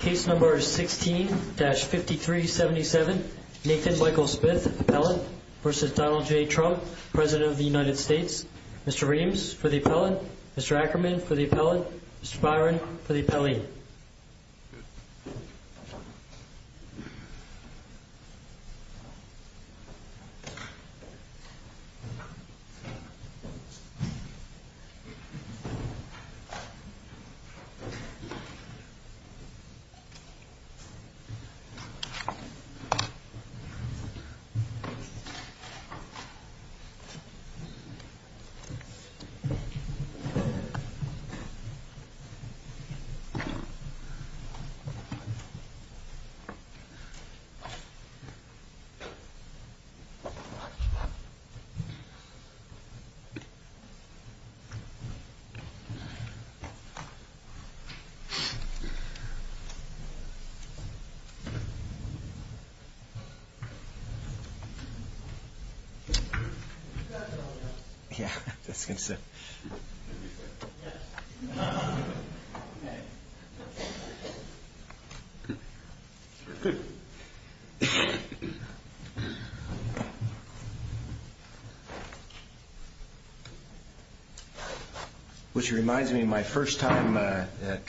Case number 16-5377, Nathan Michael Smith, Appellant v. Donald J. Trump, President of the United States Mr. Reams for the Appellant, Mr. Ackerman for the Appellant, Mr. Byron for the Appellant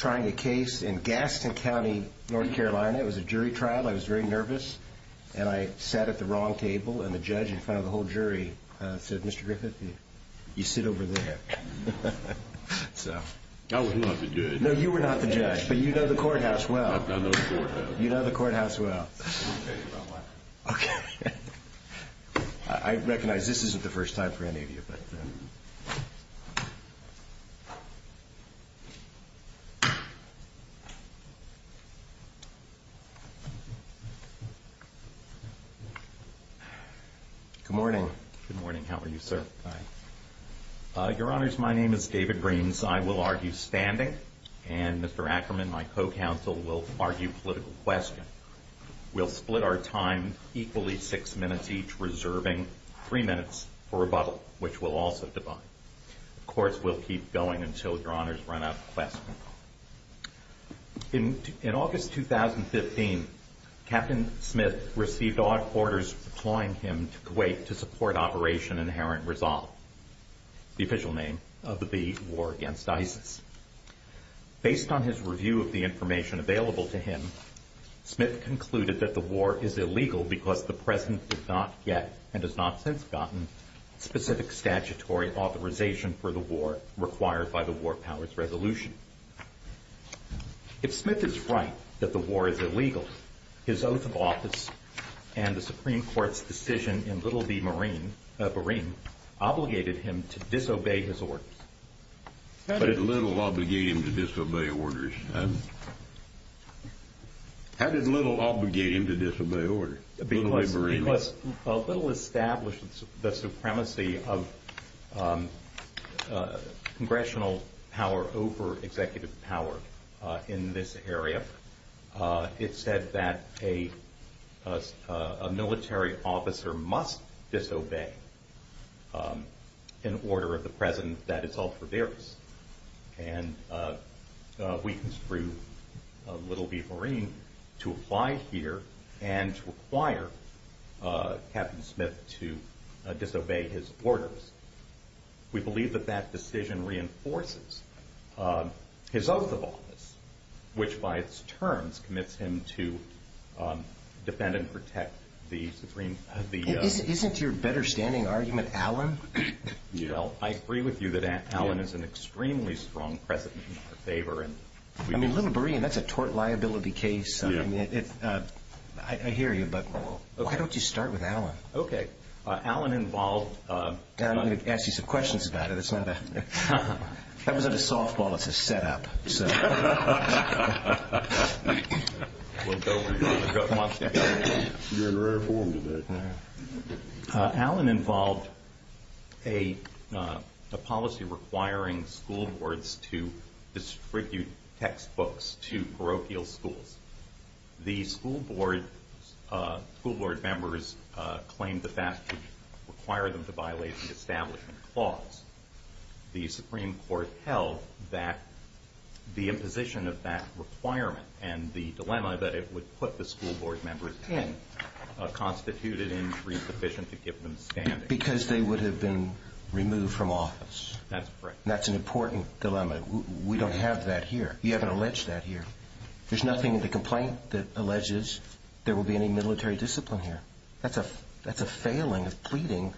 I had a case in Gaston County, North Carolina, it was a jury trial. I was very nervous and I sat at the wrong table and the judge, in front of the whole jury, said, Mr. Griffith, you sit over there. No, you were not the judge. You know the courthouse well. You know the courthouse well. Okay. I recognize this isn't the first time for any of you, but... Good morning. Good morning. How are you, sir? Fine. Your Honors, my name is David Reams. Since I will argue standing, and Mr. Ackerman, my co-counsel, will argue political question, we'll split our time equally six minutes each, reserving three minutes for rebuttal, which we'll also divide. Of course, we'll keep going until Your Honors run out of questions. In August 2015, Captain Smith received odd orders deploying him to Kuwait to support Operation Inherent Resolve, the official name of the war against ISIS. Based on his review of the information available to him, Smith concluded that the war is illegal because the President did not yet, and has not since gotten, specific statutory authorization for the war required by the War Powers Resolution. If Smith is right that the war is illegal, his oath of office and the Supreme Court's decision in Little v. Bereen obligated him to disobey his orders. How did Little obligate him to disobey orders? How did Little obligate him to disobey orders? Because Little established the supremacy of congressional power over executive power in this area. It said that a military officer must disobey an order of the President that is held for various. And we construed Little v. Bereen to apply here and require Captain Smith to disobey his orders. We believe that that decision reinforces his oath of office, which by its terms commits him to defend and protect the Supreme Court. Isn't your better standing argument Allen? Well, I agree with you that Allen is an extremely strong President in our favor. I mean, Little Bereen, that's a tort liability case. I hear you, but why don't you start with Allen? Okay. Allen involved… I'm going to ask you some questions about it. That wasn't a softball, it's a setup. Allen involved a policy requiring school boards to distribute textbooks to parochial schools. The school board members claimed the statute required them to violate the establishment clause. The Supreme Court held that the imposition of that requirement and the dilemma that it would put the school board members in constituted an increase sufficient to give them standing. Because they would have been removed from office. That's correct. That's an important dilemma. We don't have that here. You haven't alleged that here. There's nothing in the complaint that alleges there will be any military discipline here. That's a failing of pleading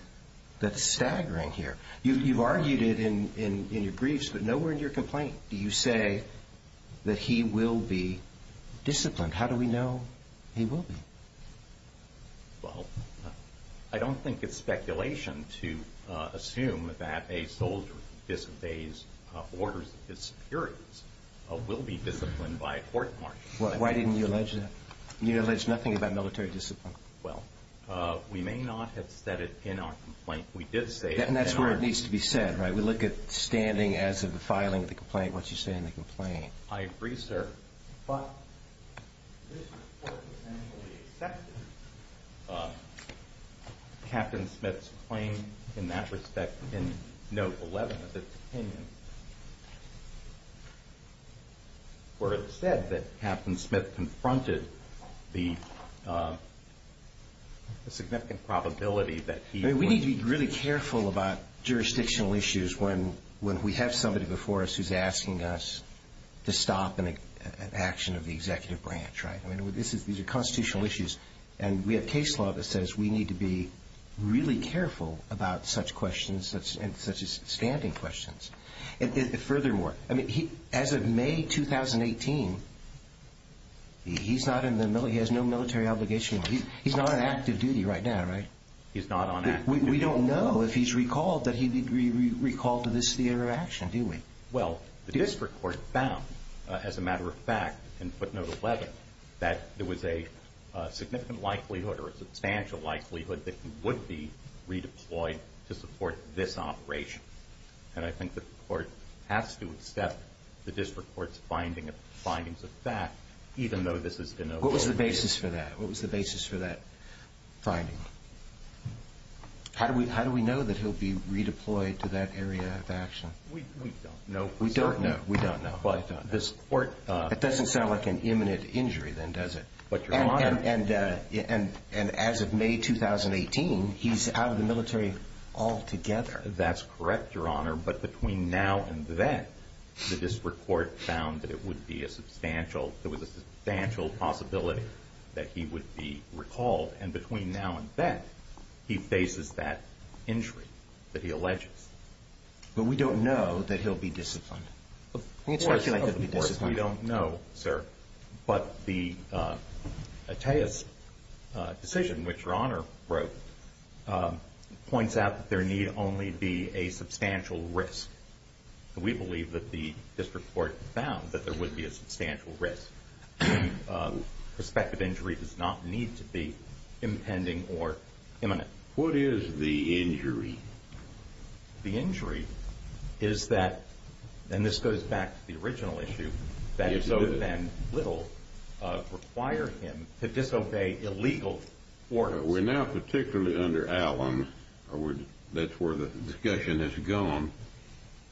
that's staggering here. You've argued it in your briefs, but nowhere in your complaint do you say that he will be disciplined. How do we know he will be? Well, I don't think it's speculation to assume that a soldier who disobeys orders of his superiors will be disciplined by a court-martial. Why didn't you allege that? You allege nothing about military discipline. Well, we may not have said it in our complaint. We did say it in our… And that's where it needs to be said, right? We look at standing as of the filing of the complaint, what you say in the complaint. I agree, sir. But this report potentially accepted Captain Smith's claim in that respect, in Note 11, where it said that Captain Smith confronted the significant probability that he would… We need to be really careful about jurisdictional issues when we have somebody before us who's asking us to stop an action of the executive branch. These are constitutional issues. And we have case law that says we need to be really careful about such questions and such as standing questions. Furthermore, as of May 2018, he's not in the military. He has no military obligation. He's not on active duty right now, right? He's not on active duty. We don't know if he's recalled that he recalled to this theater of action, do we? Well, the district court found, as a matter of fact, in footnote 11, that there was a significant likelihood or a substantial likelihood that he would be redeployed to support this operation. And I think the court has to accept the district court's findings of that, even though this has been a… What was the basis for that? What was the basis for that finding? How do we know that he'll be redeployed to that area of action? We don't know. We don't know. We don't know. But this court… It doesn't sound like an imminent injury then, does it? But, Your Honor… And as of May 2018, he's out of the military altogether. That's correct, Your Honor. But between now and then, the district court found that it would be a substantial… that he would be recalled. And between now and then, he faces that injury that he alleges. But we don't know that he'll be disciplined. We don't know, sir. But the Attea's decision, which Your Honor wrote, points out that there need only be a substantial risk. We believe that the district court found that there would be a substantial risk. Prospective injury does not need to be impending or imminent. What is the injury? The injury is that, and this goes back to the original issue, that it so then will require him to disobey illegal orders. We're now particularly under Allen. That's where the discussion has gone.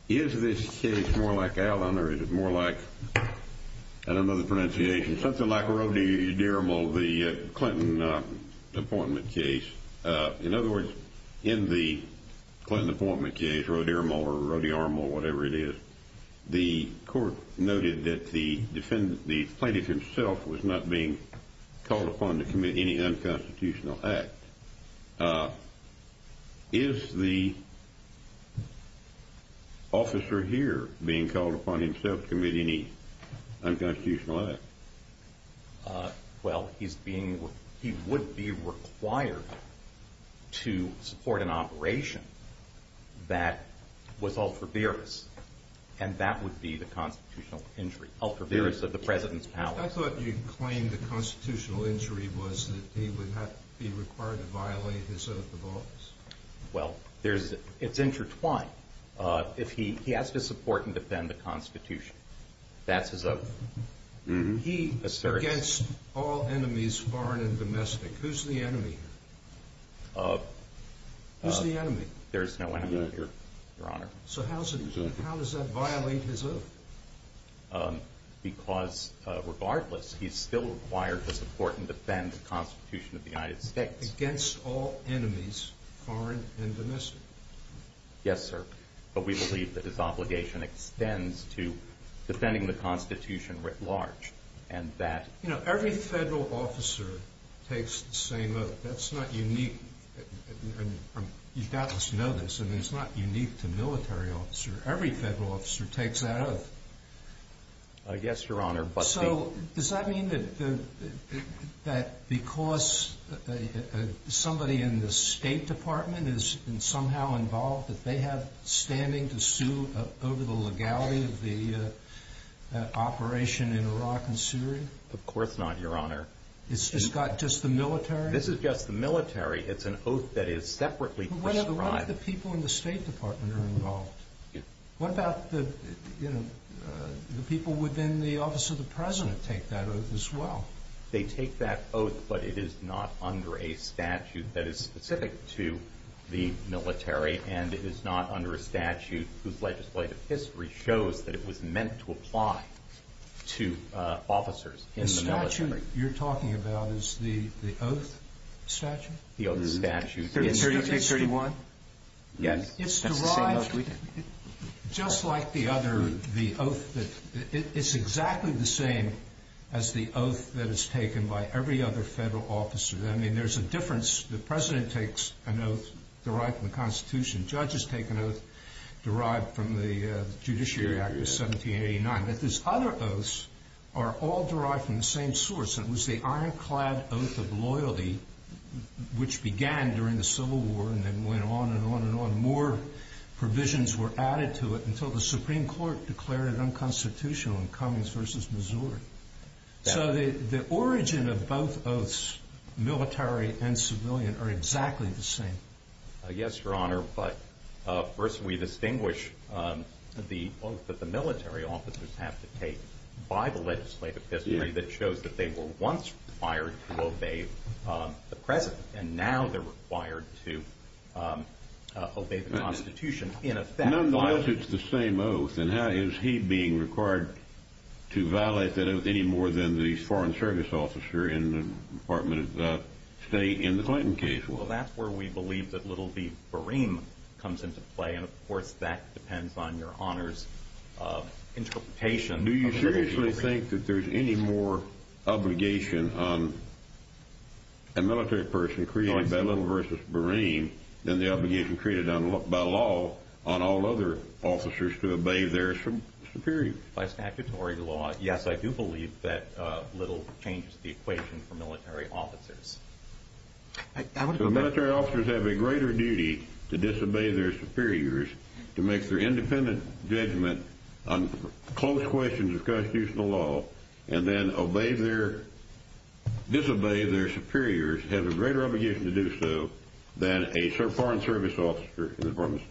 Is this case more like Allen or is it more like, I don't know the pronunciation, something like Rodearmo, the Clinton appointment case? In other words, in the Clinton appointment case, Rodearmo or Rodearmo, whatever it is, the court noted that the defendant, the plaintiff himself, was not being called upon to commit any unconstitutional act. Is the officer here being called upon himself to commit any unconstitutional act? Well, he would be required to support an operation that was ultra-virus, and that would be the constitutional injury, ultra-virus of the President's powers. I thought you claimed the constitutional injury was that he would not be required to violate his oath of office. Well, it's intertwined. He has to support and defend the Constitution. That's his oath. Against all enemies, foreign and domestic, who's the enemy? There's no enemy, Your Honor. So how does that violate his oath? Because, regardless, he's still required to support and defend the Constitution of the United States. Against all enemies, foreign and domestic. Yes, sir. But we believe that his obligation extends to defending the Constitution writ large. You know, every federal officer takes the same oath. That's not unique. You doubtless know this. I mean, it's not unique to military officer. Every federal officer takes that oath. Yes, Your Honor. So does that mean that because somebody in the State Department is somehow involved, that they have standing to sue over the legality of the operation in Iraq and Syria? Of course not, Your Honor. It's just the military? This is just the military. It's an oath that is separately prescribed. But what about the people in the State Department who are involved? What about the people within the Office of the President take that oath as well? They take that oath, but it is not under a statute that is specific to the military and is not under a statute whose legislative history shows that it was meant to apply to officers in the military. The statute you're talking about is the oath statute? The oath statute. It's 31? Yes. It's derived just like the other oath. It's exactly the same as the oath that is taken by every other federal officer. I mean, there's a difference. The President takes an oath derived from the Constitution. Judges take an oath derived from the Judiciary Act of 1789. But these other oaths are all derived from the same source, and it was the ironclad oath of loyalty which began during the Civil War and then went on and on and on. More provisions were added to it until the Supreme Court declared it unconstitutional in Cummings v. Missouri. So the origin of both oaths, military and civilian, are exactly the same. Yes, Your Honor, but first we distinguish the oath that the military officers have to take by the legislative history that shows that they were once required to obey the President, and now they're required to obey the Constitution. Nonetheless, it's the same oath, and how is he being required to violate that oath any more than the Foreign Service officer in the Department of State in the Clinton case was? Well, that's where we believe that little B. Boreem comes into play, and, of course, that depends on Your Honor's interpretation. Do you seriously think that there's any more obligation on a military person created by Little v. Boreem than the obligation created by law on all other officers to obey their superiors? By statutory law, yes, I do believe that Little changes the equation for military officers. So military officers have a greater duty to disobey their superiors, to make their independent judgment on close questions of constitutional law, and then disobey their superiors have a greater obligation to do so than a Foreign Service officer in the Department of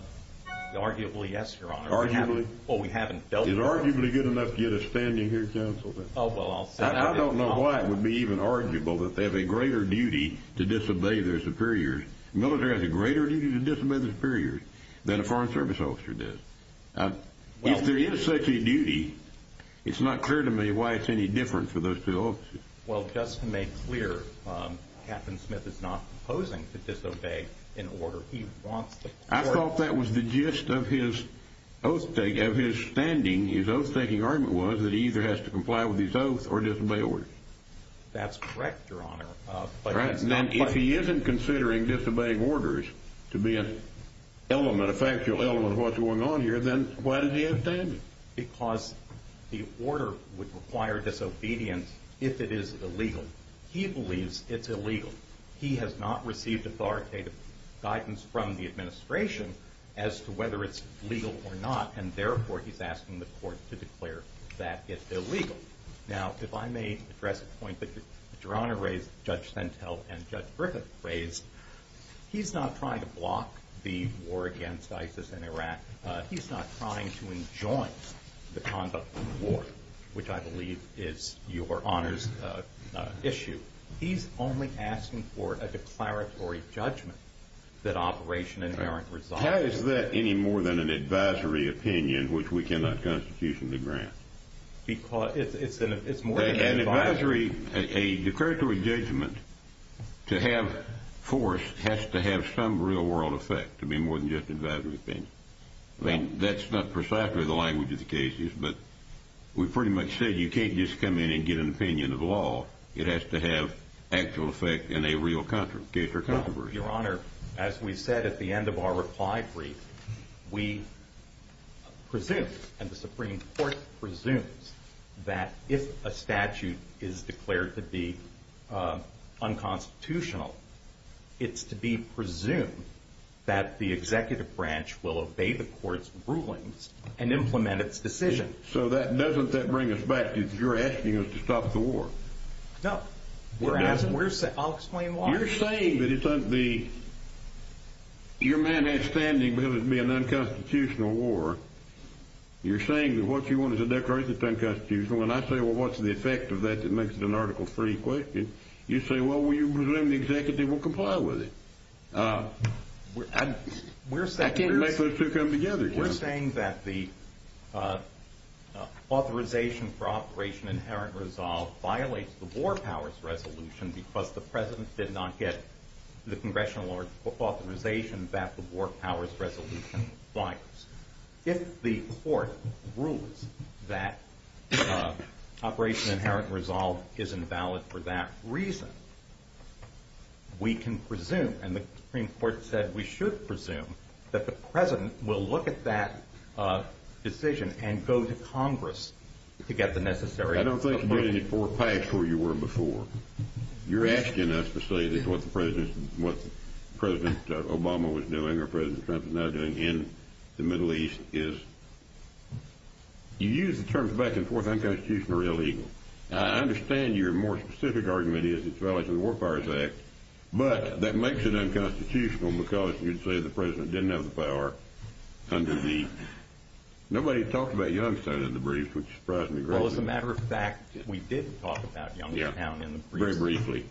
State. Arguably, yes, Your Honor. Arguably? Well, we haven't felt that. It's arguably good enough to get us standing here, Counsel. Oh, well, I'll say that. I don't know why it would be even arguable that they have a greater duty to disobey their superiors. The military has a greater duty to disobey their superiors than a Foreign Service officer does. If there is such a duty, it's not clear to me why it's any different for those two officers. Well, just to make clear, Captain Smith is not proposing to disobey in order he wants to. I thought that was the gist of his standing. His oath-taking argument was that he either has to comply with his oath or disobey orders. That's correct, Your Honor. If he isn't considering disobeying orders to be an element, a factual element of what's going on here, then why does he have standing? Because the order would require disobedience if it is illegal. He believes it's illegal. He has not received authoritative guidance from the administration as to whether it's legal or not, and therefore he's asking the court to declare that it's illegal. Now, if I may address a point that Your Honor raised, Judge Sentel and Judge Griffith raised, he's not trying to block the war against ISIS in Iraq. He's not trying to enjoin the conduct of war, which I believe is Your Honor's issue. He's only asking for a declaratory judgment that Operation American Resolve is illegal. How is that any more than an advisory opinion which we cannot constitutionally grant? It's more than an advisory. An advisory, a declaratory judgment to have force has to have some real-world effect to be more than just an advisory opinion. I mean, that's not precisely the language of the cases, but we pretty much said you can't just come in and get an opinion of law. It has to have actual effect in a real case or controversy. Your Honor, as we said at the end of our reply brief, we presume, and the Supreme Court presumes, that if a statute is declared to be unconstitutional, it's to be presumed that the executive branch will obey the court's rulings and implement its decision. So doesn't that bring us back to you're asking us to stop the war? No. I'll explain why. You're saying that your man has standing because it would be an unconstitutional war. You're saying that what you want is a declaration that's unconstitutional, and I say, well, what's the effect of that that makes it an article-free question? You say, well, we presume the executive will comply with it. I can't make those two come together. We're saying that the authorization for Operation Inherent Resolve violates the War Powers Resolution because the President did not get the congressional authorization that the War Powers Resolution violates. If the court rules that Operation Inherent Resolve is invalid for that reason, we can presume, and the Supreme Court said we should presume, that the President will look at that decision and go to Congress to get the necessary support. You're not getting it four packs where you were before. You're asking us to say that what President Obama was doing or President Trump is now doing in the Middle East is— you use the terms back and forth unconstitutional or illegal. I understand your more specific argument is it violates the War Powers Act, but that makes it unconstitutional because you'd say the President didn't have the power under the— nobody talked about Youngstown in the brief, which surprised me greatly. Well, as a matter of fact, we did talk about Youngstown in the brief. Very briefly.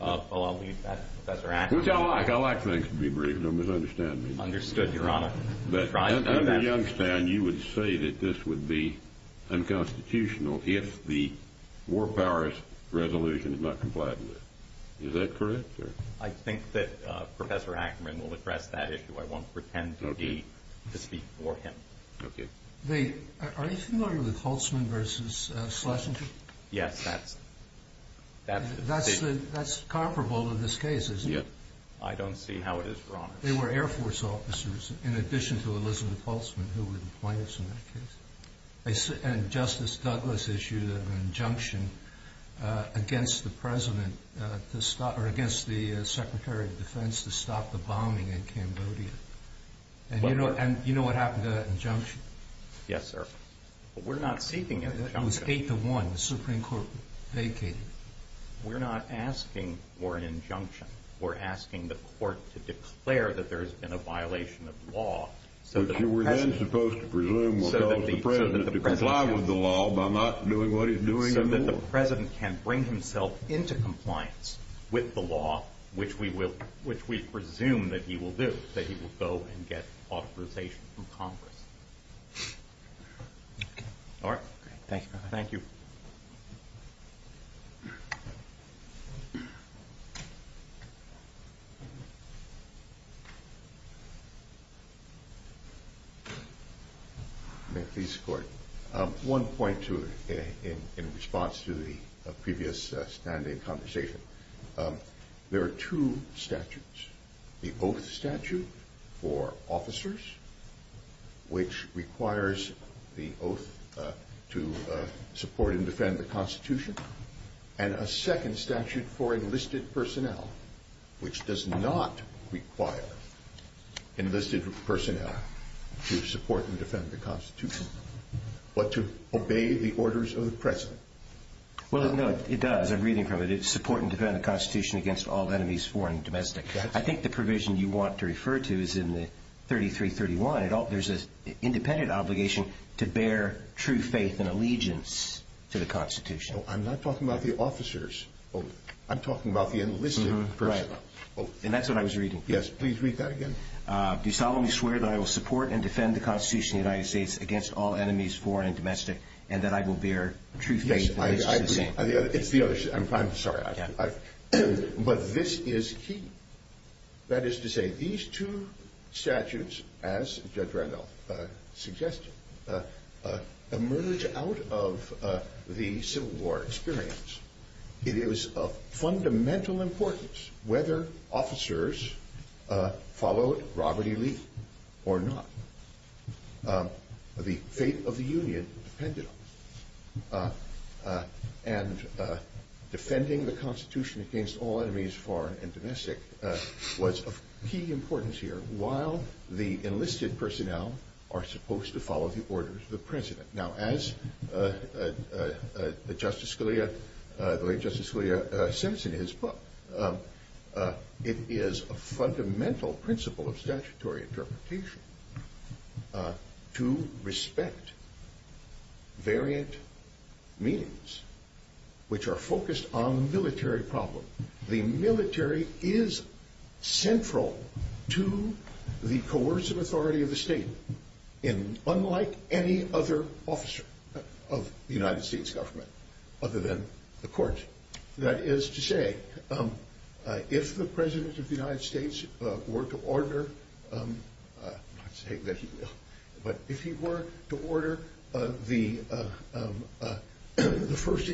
I'll leave that to Professor Ackerman. Which I like. I like things to be brief. Don't misunderstand me. Understood, Your Honor. Under Youngstown, you would say that this would be unconstitutional if the War Powers Resolution is not complied with. Is that correct? I think that Professor Ackerman will address that issue. I won't pretend to speak for him. Are you familiar with Holtzman v. Schlesinger? Yes, that's— That's comparable to this case, isn't it? I don't see how it is, Your Honor. They were Air Force officers in addition to Elizabeth Holtzman, who were the plaintiffs in that case. And Justice Douglas issued an injunction against the President to stop— or against the Secretary of Defense to stop the bombing in Cambodia. And you know what happened to that injunction? Yes, sir. But we're not seeking an injunction. It was 8-1. The Supreme Court vacated it. We're not asking for an injunction. We're asking the Court to declare that there's been a violation of law so that the President— But you were then supposed to presume what tells the President to comply with the law by not doing what he's doing in the law. So the President can bring himself into compliance with the law, which we presume that he will do, that he will go and get authorization from Congress. All right. Thank you, Your Honor. Thank you. Thank you. May I please, Court? One point in response to the previous standing conversation. There are two statutes, the oath statute for officers, which requires the oath to support and defend the Constitution, and a second statute for enlisted personnel, which does not require enlisted personnel to support and defend the Constitution, but to obey the orders of the President. Well, no, it does. I'm reading from it. It's support and defend the Constitution against all enemies, foreign and domestic. I think the provision you want to refer to is in the 3331. There's an independent obligation to bear true faith and allegiance to the Constitution. I'm not talking about the officers. I'm talking about the enlisted personnel. Right. And that's what I was reading. Yes. Please read that again. Do solemnly swear that I will support and defend the Constitution of the United States against all enemies, foreign and domestic, and that I will bear true faith and allegiance to the Constitution. It's the other. I'm sorry. But this is key. That is to say, these two statutes, as Judge Randolph suggested, emerge out of the Civil War experience. It is of fundamental importance whether officers followed Robert E. Lee or not. The fate of the Union depended on this. And defending the Constitution against all enemies, foreign and domestic, was of key importance here, while the enlisted personnel are supposed to follow the orders of the President. Now, as the late Justice Scalia says in his book, it is a fundamental principle of statutory interpretation to respect variant meanings, which are focused on the military problem. The military is central to the coercive authority of the state, unlike any other officer of the United States government, other than the court. That is to say, if the President of the United States were to order, not say that he will, but if he were to order the First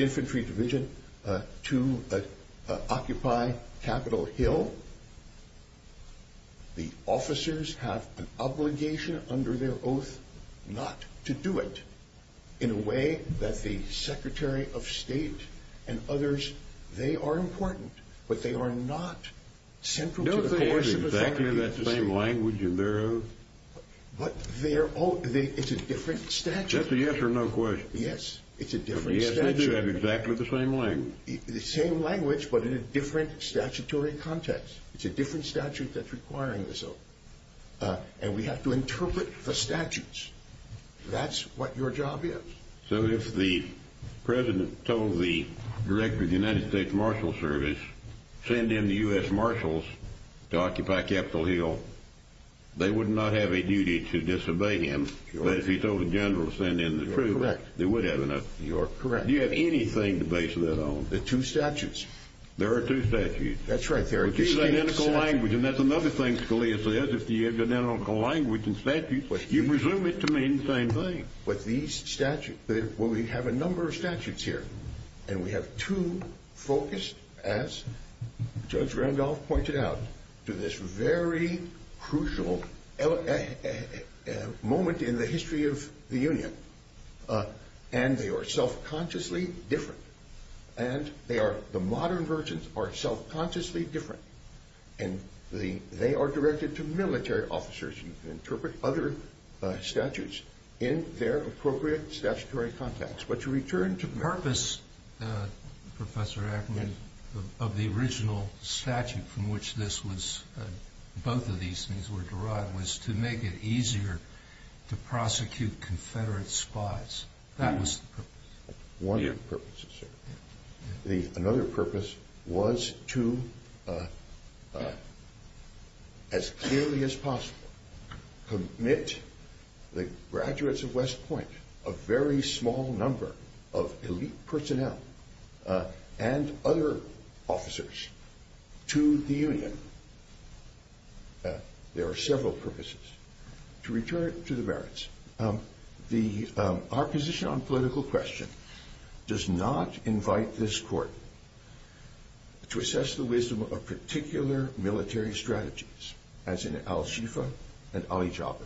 Infantry Division to occupy Capitol Hill, the officers have an obligation under their oath not to do it, in a way that the Secretary of State and others, they are important, but they are not central to the coercive authority of the state. Don't they have exactly the same language in their oath? But it's a different statute. That's a yes or no question. Yes, it's a different statute. Yes, they do have exactly the same language. But in a different statutory context. It's a different statute that's requiring this oath. And we have to interpret the statutes. That's what your job is. So if the President told the Director of the United States Marshal Service, send in the U.S. Marshals to occupy Capitol Hill, they would not have a duty to disobey him. But if he told the General to send in the troops, they would have enough. You are correct. Do you have anything to base that on? The two statutes. There are two statutes. That's right. There are two statutes. Which is identical language, and that's another thing Scalia says. If you have identical language and statutes, you presume it to mean the same thing. But these statutes, well, we have a number of statutes here. And we have two focused, as Judge Randolph pointed out, to this very crucial moment in the history of the Union. And they are self-consciously different. And the modern versions are self-consciously different. And they are directed to military officers. You can interpret other statutes in their appropriate statutory context. But to return to purpose, Professor Ackerman, of the original statute from which this was, both of these things were derived, was to make it easier to prosecute Confederate spies. That was the purpose. One of the purposes, sir. Another purpose was to, as clearly as possible, commit the graduates of West Point, a very small number of elite personnel and other officers, to the Union. There are several purposes. To return to the merits, our position on political question does not invite this Court to assess the wisdom of particular military strategies, as in al-Shifa and al-Hijab.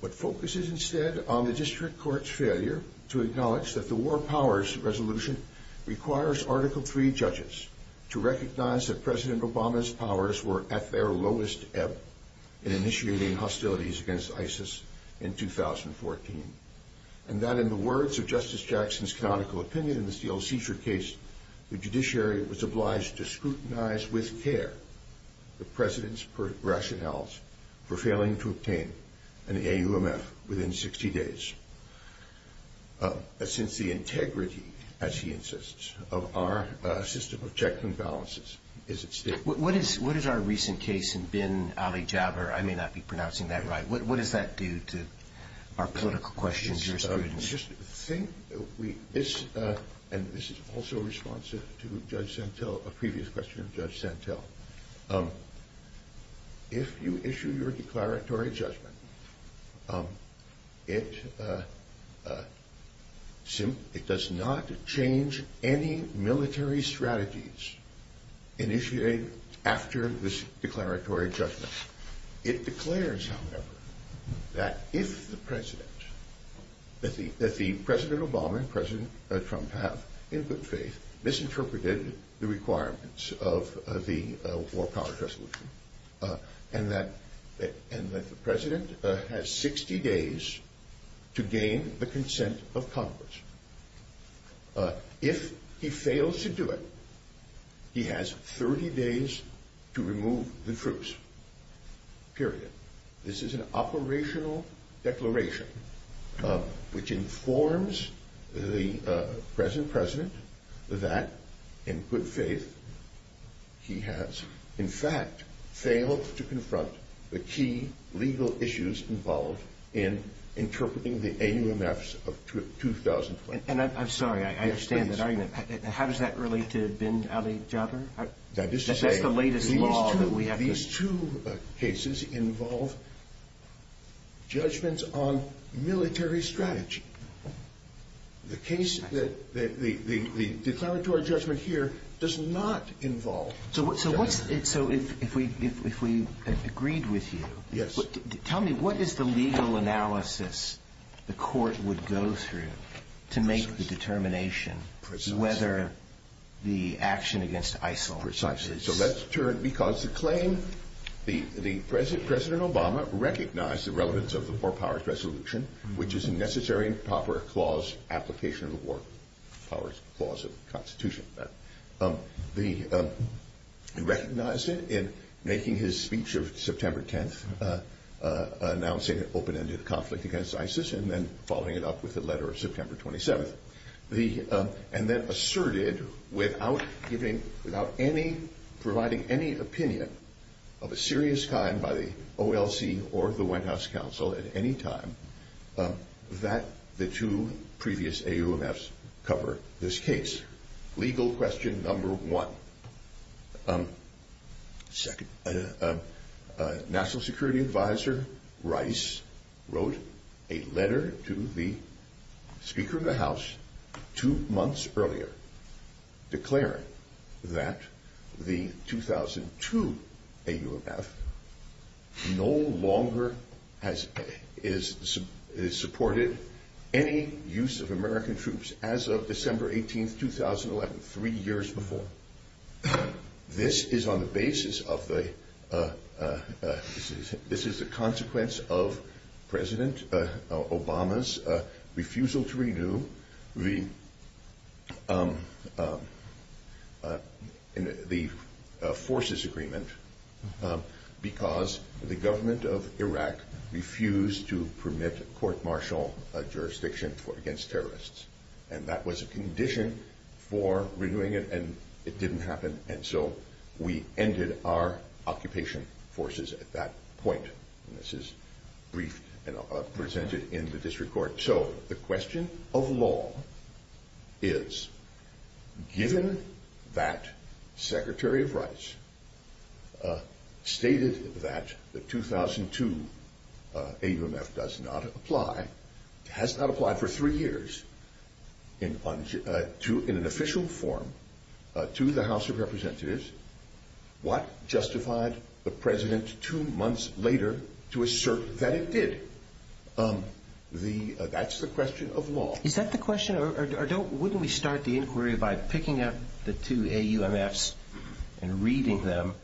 What focuses instead on the district court's failure to acknowledge that the War Powers Resolution requires Article III judges to recognize that President Obama's powers were at their lowest ebb in initiating hostilities against ISIS in 2014, and that in the words of Justice Jackson's canonical opinion in the steel-seizure case, the judiciary was obliged to scrutinize with care the President's rationales for failing to obtain an AUMF within 60 days. Since the integrity, as he insists, of our system of checks and balances is at stake. What is our recent case in bin al-Hijab, or I may not be pronouncing that right, what does that do to our political questions? And this is also a response to Judge Santel, a previous question of Judge Santel. If you issue your declaratory judgment, it does not change any military strategies initiated after this declaratory judgment. It declares, however, that if the President, that the President Obama and President Trump have, in good faith, misinterpreted the requirements of the War Powers Resolution, and that the President has 60 days to gain the consent of Congress. If he fails to do it, he has 30 days to remove the troops. Period. This is an operational declaration which informs the present President that, in good faith, he has, in fact, failed to confront the key legal issues involved in interpreting the AUMFs of 2020. And I'm sorry, I understand that argument. How does that relate to bin al-Hijab? That is to say, these two cases involve judgments on military strategy. The case, the declaratory judgment here, does not involve. So if we agreed with you, tell me, what is the legal analysis the court would go through to make the determination whether the action against ISIL? Precisely. So let's turn, because the claim, the President Obama recognized the relevance of the War Powers Resolution, which is a necessary and proper clause application of the War Powers Clause of the Constitution. He recognized it in making his speech of September 10th, announcing an open-ended conflict against ISIS, and then following it up with the letter of September 27th. And then asserted, without providing any opinion of a serious kind by the OLC or the White House Counsel at any time, that the two previous AUMFs cover this case. Legal question number one. National Security Advisor Rice wrote a letter to the Speaker of the House two months earlier, declaring that the 2002 AUMF no longer has supported any use of American troops as of December 18th, 2011, three years before. This is on the basis of the, this is the consequence of President Obama's refusal to renew the Forces Agreement, because the government of Iraq refused to permit court-martial jurisdiction against terrorists. And that was a condition for renewing it, and it didn't happen. And so we ended our occupation forces at that point. And this is brief and presented in the district court. So the question of law is, given that Secretary Rice stated that the 2002 AUMF does not apply, has not applied for three years in an official form to the House of Representatives, what justified the President two months later to assert that it did? That's the question of law. Is that the question, or wouldn't we start the inquiry by picking up the two AUMFs and reading them,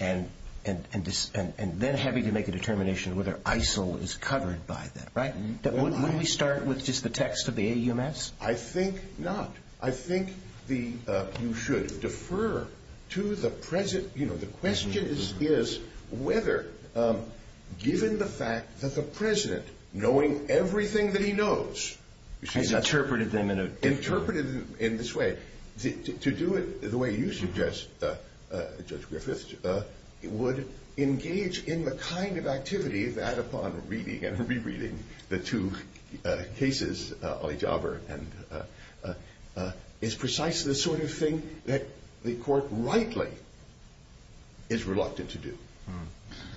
and then having to make a determination whether ISIL is covered by them, right? Wouldn't we start with just the text of the AUMFs? I think not. I think you should defer to the present. You know, the question is whether, given the fact that the President, knowing everything that he knows, has interpreted them in this way, to do it the way you suggest, Judge Griffiths, would engage in the kind of activity that, upon reading and rereading the two cases, Ali Jaber, is precisely the sort of thing that the Court rightly is reluctant to do.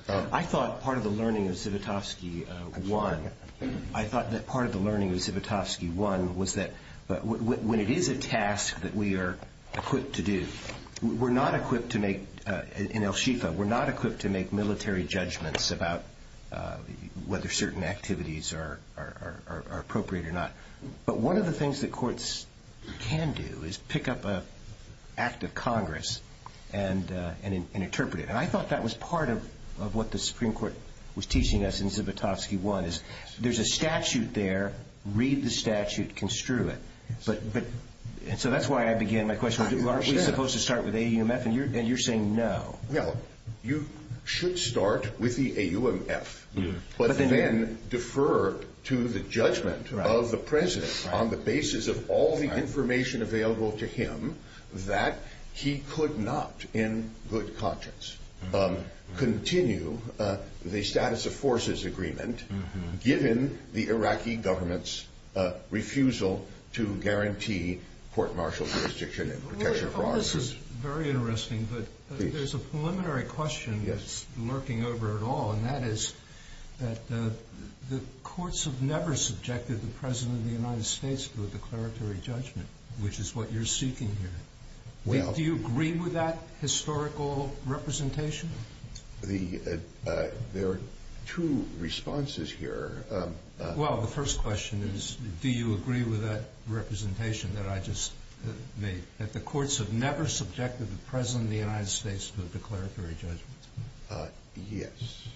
I thought part of the learning of Zivotofsky 1 was that when it is a task that we are equipped to do, we're not equipped to make, in El Shifa, we're not equipped to make military judgments about whether certain activities are appropriate or not. But one of the things that courts can do is pick up an act of Congress and interpret it. And I thought that was part of what the Supreme Court was teaching us in Zivotofsky 1, is there's a statute there, read the statute, construe it. So that's why I began my question, aren't we supposed to start with AUMF? And you're saying no. Well, you should start with the AUMF, but then defer to the judgment of the President on the basis of all the information available to him that he could not, in good conscience, continue the status of forces agreement given the Iraqi government's refusal to guarantee court-martial jurisdiction and protection for arms. Well, this is very interesting, but there's a preliminary question that's lurking over it all, and that is that the courts have never subjected the President of the United States to a declaratory judgment, which is what you're seeking here. Do you agree with that historical representation? There are two responses here. Well, the first question is, do you agree with that representation that I just made, that the courts have never subjected the President of the United States to a declaratory judgment? Yes.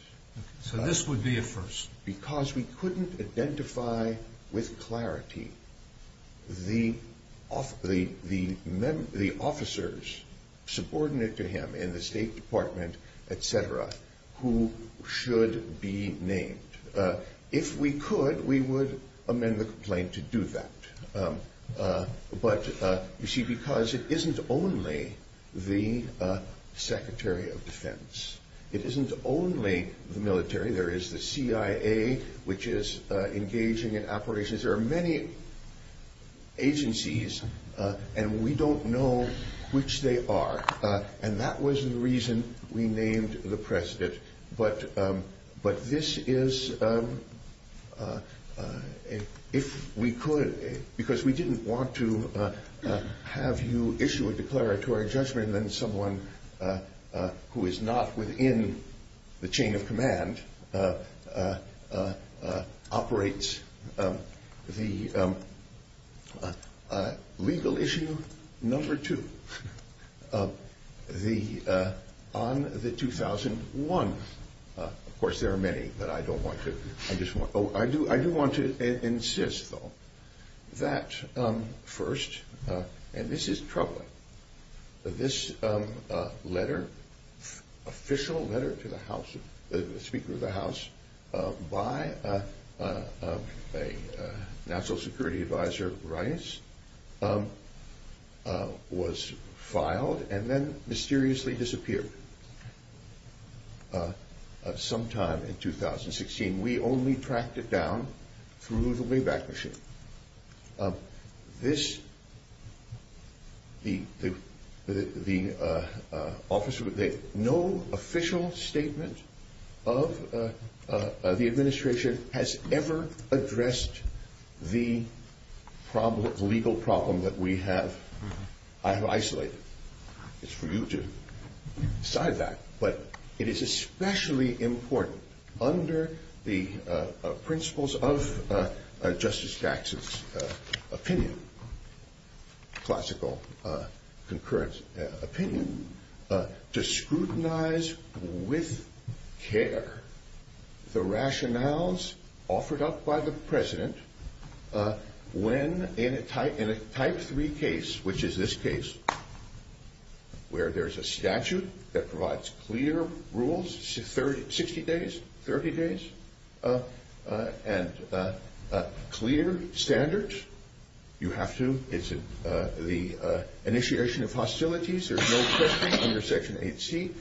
So this would be a first. Because we couldn't identify with clarity the officers subordinate to him in the State Department, et cetera, who should be named. If we could, we would amend the complaint to do that. But, you see, because it isn't only the Secretary of Defense, it isn't only the military. There is the CIA, which is engaging in operations. There are many agencies, and we don't know which they are. And that was the reason we named the President. But this is if we could, because we didn't want to have you issue a declaratory judgment than someone who is not within the chain of command operates. The legal issue number two, on the 2001, of course there are many, but I don't want to. I do want to insist, though, that first, and this is troubling, this letter, official letter to the House, the Speaker of the House, by a National Security Advisor, Rice, was filed and then mysteriously disappeared sometime in 2016. We only tracked it down through the Wayback Machine. This, the officer, no official statement of the administration has ever addressed the legal problem that we have. I have isolated it. It's for you to decide that. But it is especially important under the principles of Justice Dax's opinion, classical concurrence opinion, to scrutinize with care the rationales offered up by the President when in a type three case, which is this case, where there's a statute that provides clear rules, 60 days, 30 days, and clear standards. You have to. It's the initiation of hostilities. There's no question under Section 8C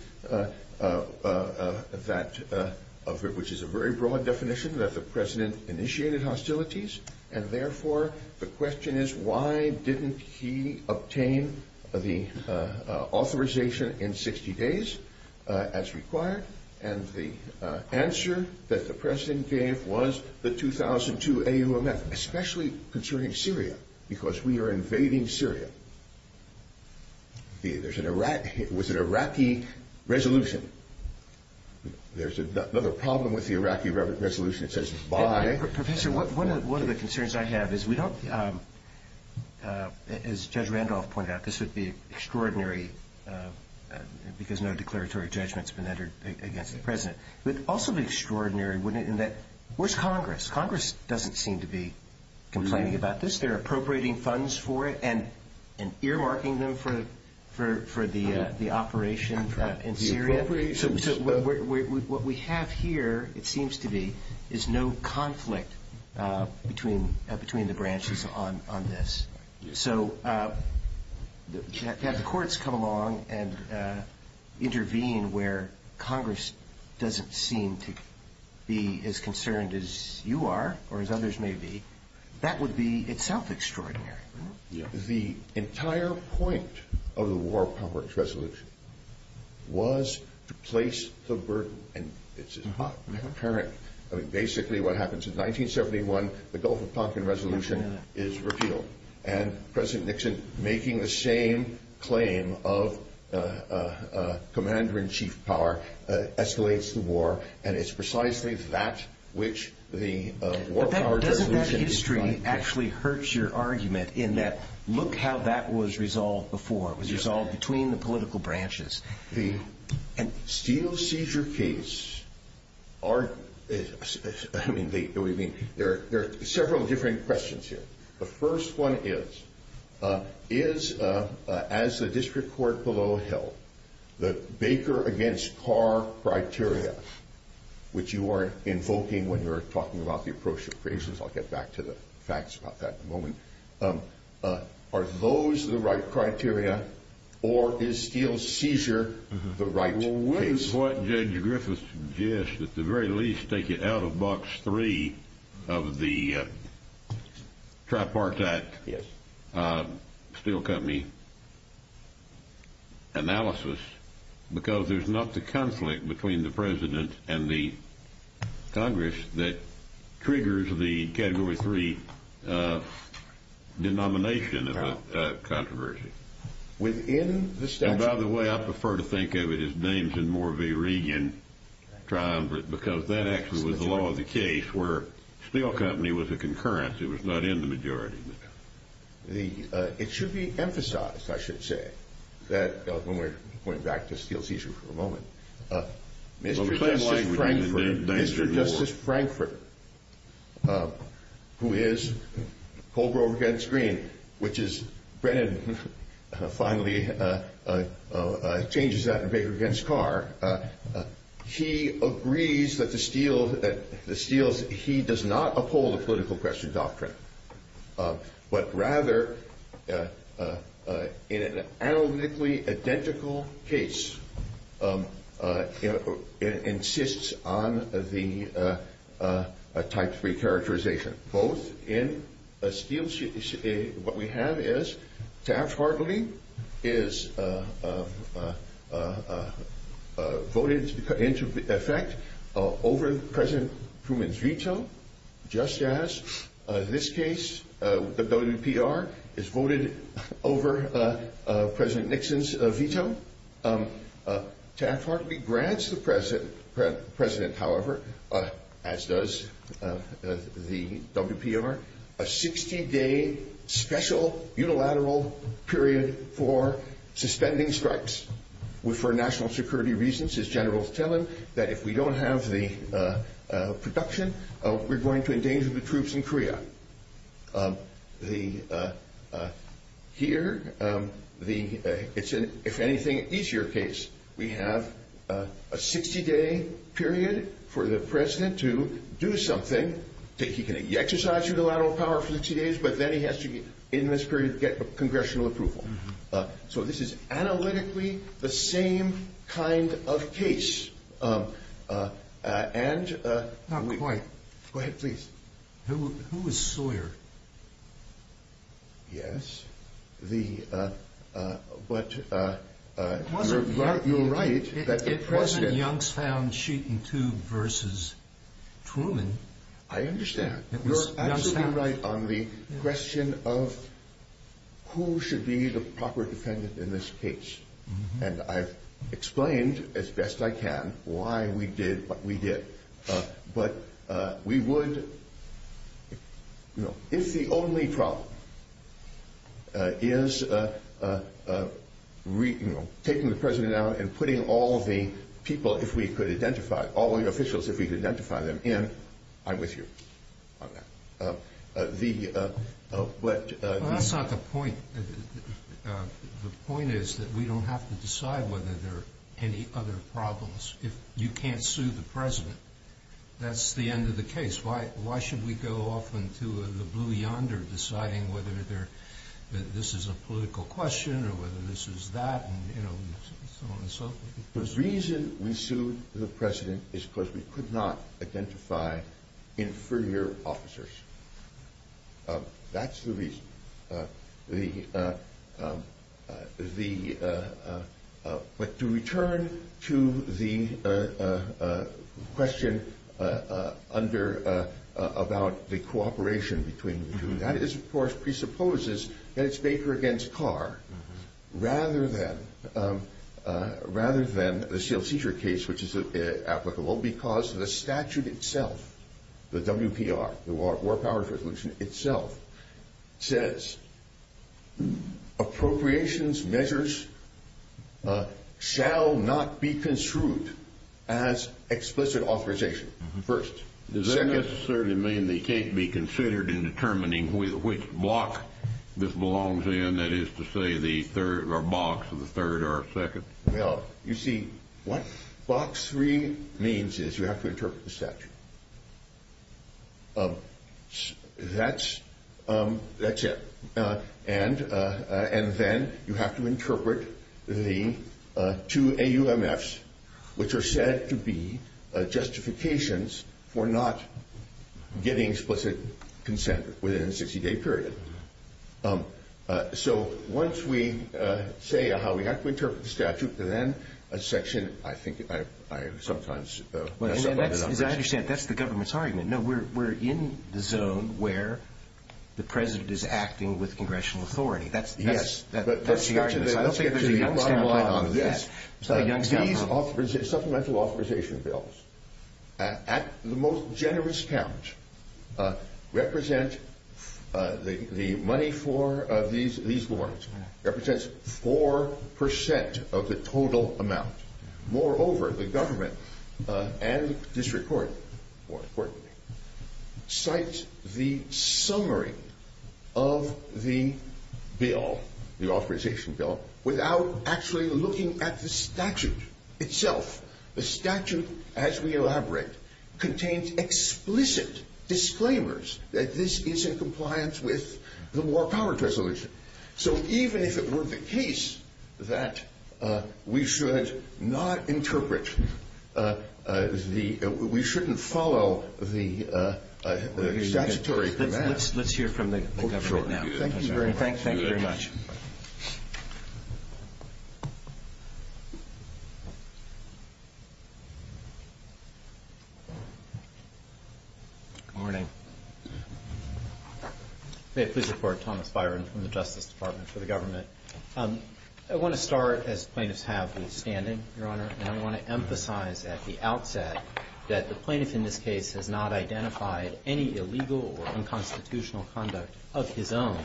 that, which is a very broad definition, that the President initiated hostilities. And therefore, the question is, why didn't he obtain the authorization in 60 days as required? And the answer that the President gave was the 2002 AUMF, especially concerning Syria, because we are invading Syria. There's an Iraq, it was an Iraqi resolution. There's another problem with the Iraqi resolution. Professor, one of the concerns I have is we don't, as Judge Randolph pointed out, this would be extraordinary because no declaratory judgment has been entered against the President. It would also be extraordinary in that where's Congress? Congress doesn't seem to be complaining about this. They're appropriating funds for it and earmarking them for the operation in Syria. What we have here, it seems to be, is no conflict between the branches on this. So to have the courts come along and intervene where Congress doesn't seem to be as concerned as you are or as others may be, that would be itself extraordinary. The entire point of the War Powers Resolution was to place the burden. And it's not apparent. I mean, basically what happened since 1971, the Gulf of Tonkin Resolution is repealed. And President Nixon, making the same claim of commander-in-chief power, escalates the war. And it's precisely that which the War Powers Resolution is about. It actually hurts your argument in that look how that was resolved before. It was resolved between the political branches. The steel seizure case, I mean, there are several different questions here. The first one is, is, as the district court below held, the Baker against Carr criteria, which you are invoking when you're talking about the approach of creations. I'll get back to the facts about that in a moment. Are those the right criteria, or is steel seizure the right case? Well, what is what Judge Griffiths suggests, at the very least, take it out of Box 3 of the Tripartite Steel Company analysis, because there's not the conflict between the President and the Congress that triggers the Category 3 denomination of a controversy. Within the statute? And by the way, I prefer to think of it as names in more of a region triumvirate, because that actually was the law of the case where steel company was a concurrence. It was not in the majority. It should be emphasized, I should say, that when we're going back to steel seizure for a moment, Mr. Justice Frankfurt, who is Colgrove against Green, which is Brennan finally changes that in Baker against Carr, he agrees that he does not uphold the political question doctrine, but rather in an analytically identical case, insists on the Type 3 characterization. What we have is Taft-Hartley is voted into effect over President Truman's veto, just as this case, the WPR, is voted over President Nixon's veto. Taft-Hartley grants the President, however, as does the WPR, a 60-day special unilateral period for suspending strikes. For national security reasons, his generals tell him that if we don't have the production, we're going to endanger the troops in Korea. Here, it's an, if anything, easier case. We have a 60-day period for the President to do something. He can exercise unilateral power for 60 days, but then he has to, in this period, get congressional approval. So this is analytically the same kind of case. Not quite. Go ahead, please. Who was Sawyer? Yes, but you're right. It wasn't Youngstown Sheet and Tube versus Truman. I understand. It was Youngstown. You're absolutely right on the question of who should be the proper defendant in this case. And I've explained, as best I can, why we did what we did. But we would, you know, if the only problem is, you know, taking the President out and putting all the people, if we could identify, all the officials, if we could identify them in, I'm with you on that. Well, that's not the point. The point is that we don't have to decide whether there are any other problems. If you can't sue the President, that's the end of the case. Why should we go off into the blue yonder deciding whether this is a political question or whether this is that and, you know, so on and so forth? The reason we sued the President is because we could not identify inferior officers. That's the reason. But to return to the question under about the cooperation between the two, that is, of course, presupposes that it's Baker against Carr rather than the sealed seizure case, which is applicable because the statute itself, the WPR, the War Powers Resolution itself, says, Appropriations measures shall not be construed as explicit authorization. First. Does that necessarily mean they can't be considered in determining which block this belongs in, that is to say, the third or box or the third or second? Well, you see, what box three means is you have to interpret the statute. That's that's it. And and then you have to interpret the two AUMFs, which are said to be justifications for not getting explicit consent within a 60 day period. So once we say how we have to interpret the statute, then a section, I think I sometimes understand that's the government's argument. No, we're in the zone where the president is acting with congressional authority. Yes. I don't think there's a Youngstown line on this. These supplemental authorization bills at the most generous count represent the money for these these warrants represents four percent of the total amount. Moreover, the government and district court, more importantly, cite the summary of the bill, the authorization bill, without actually looking at the statute itself. The statute, as we elaborate, contains explicit disclaimers that this is in compliance with the War Powers Resolution. So even if it were the case that we should not interpret the we shouldn't follow the statutory. Let's hear from the. Thank you very much. Good morning. Please report Thomas Byron from the Justice Department for the government. I want to start as plaintiffs have been standing. Your Honor, I want to emphasize at the outset that the plaintiff in this case has not identified any illegal or unconstitutional conduct of his own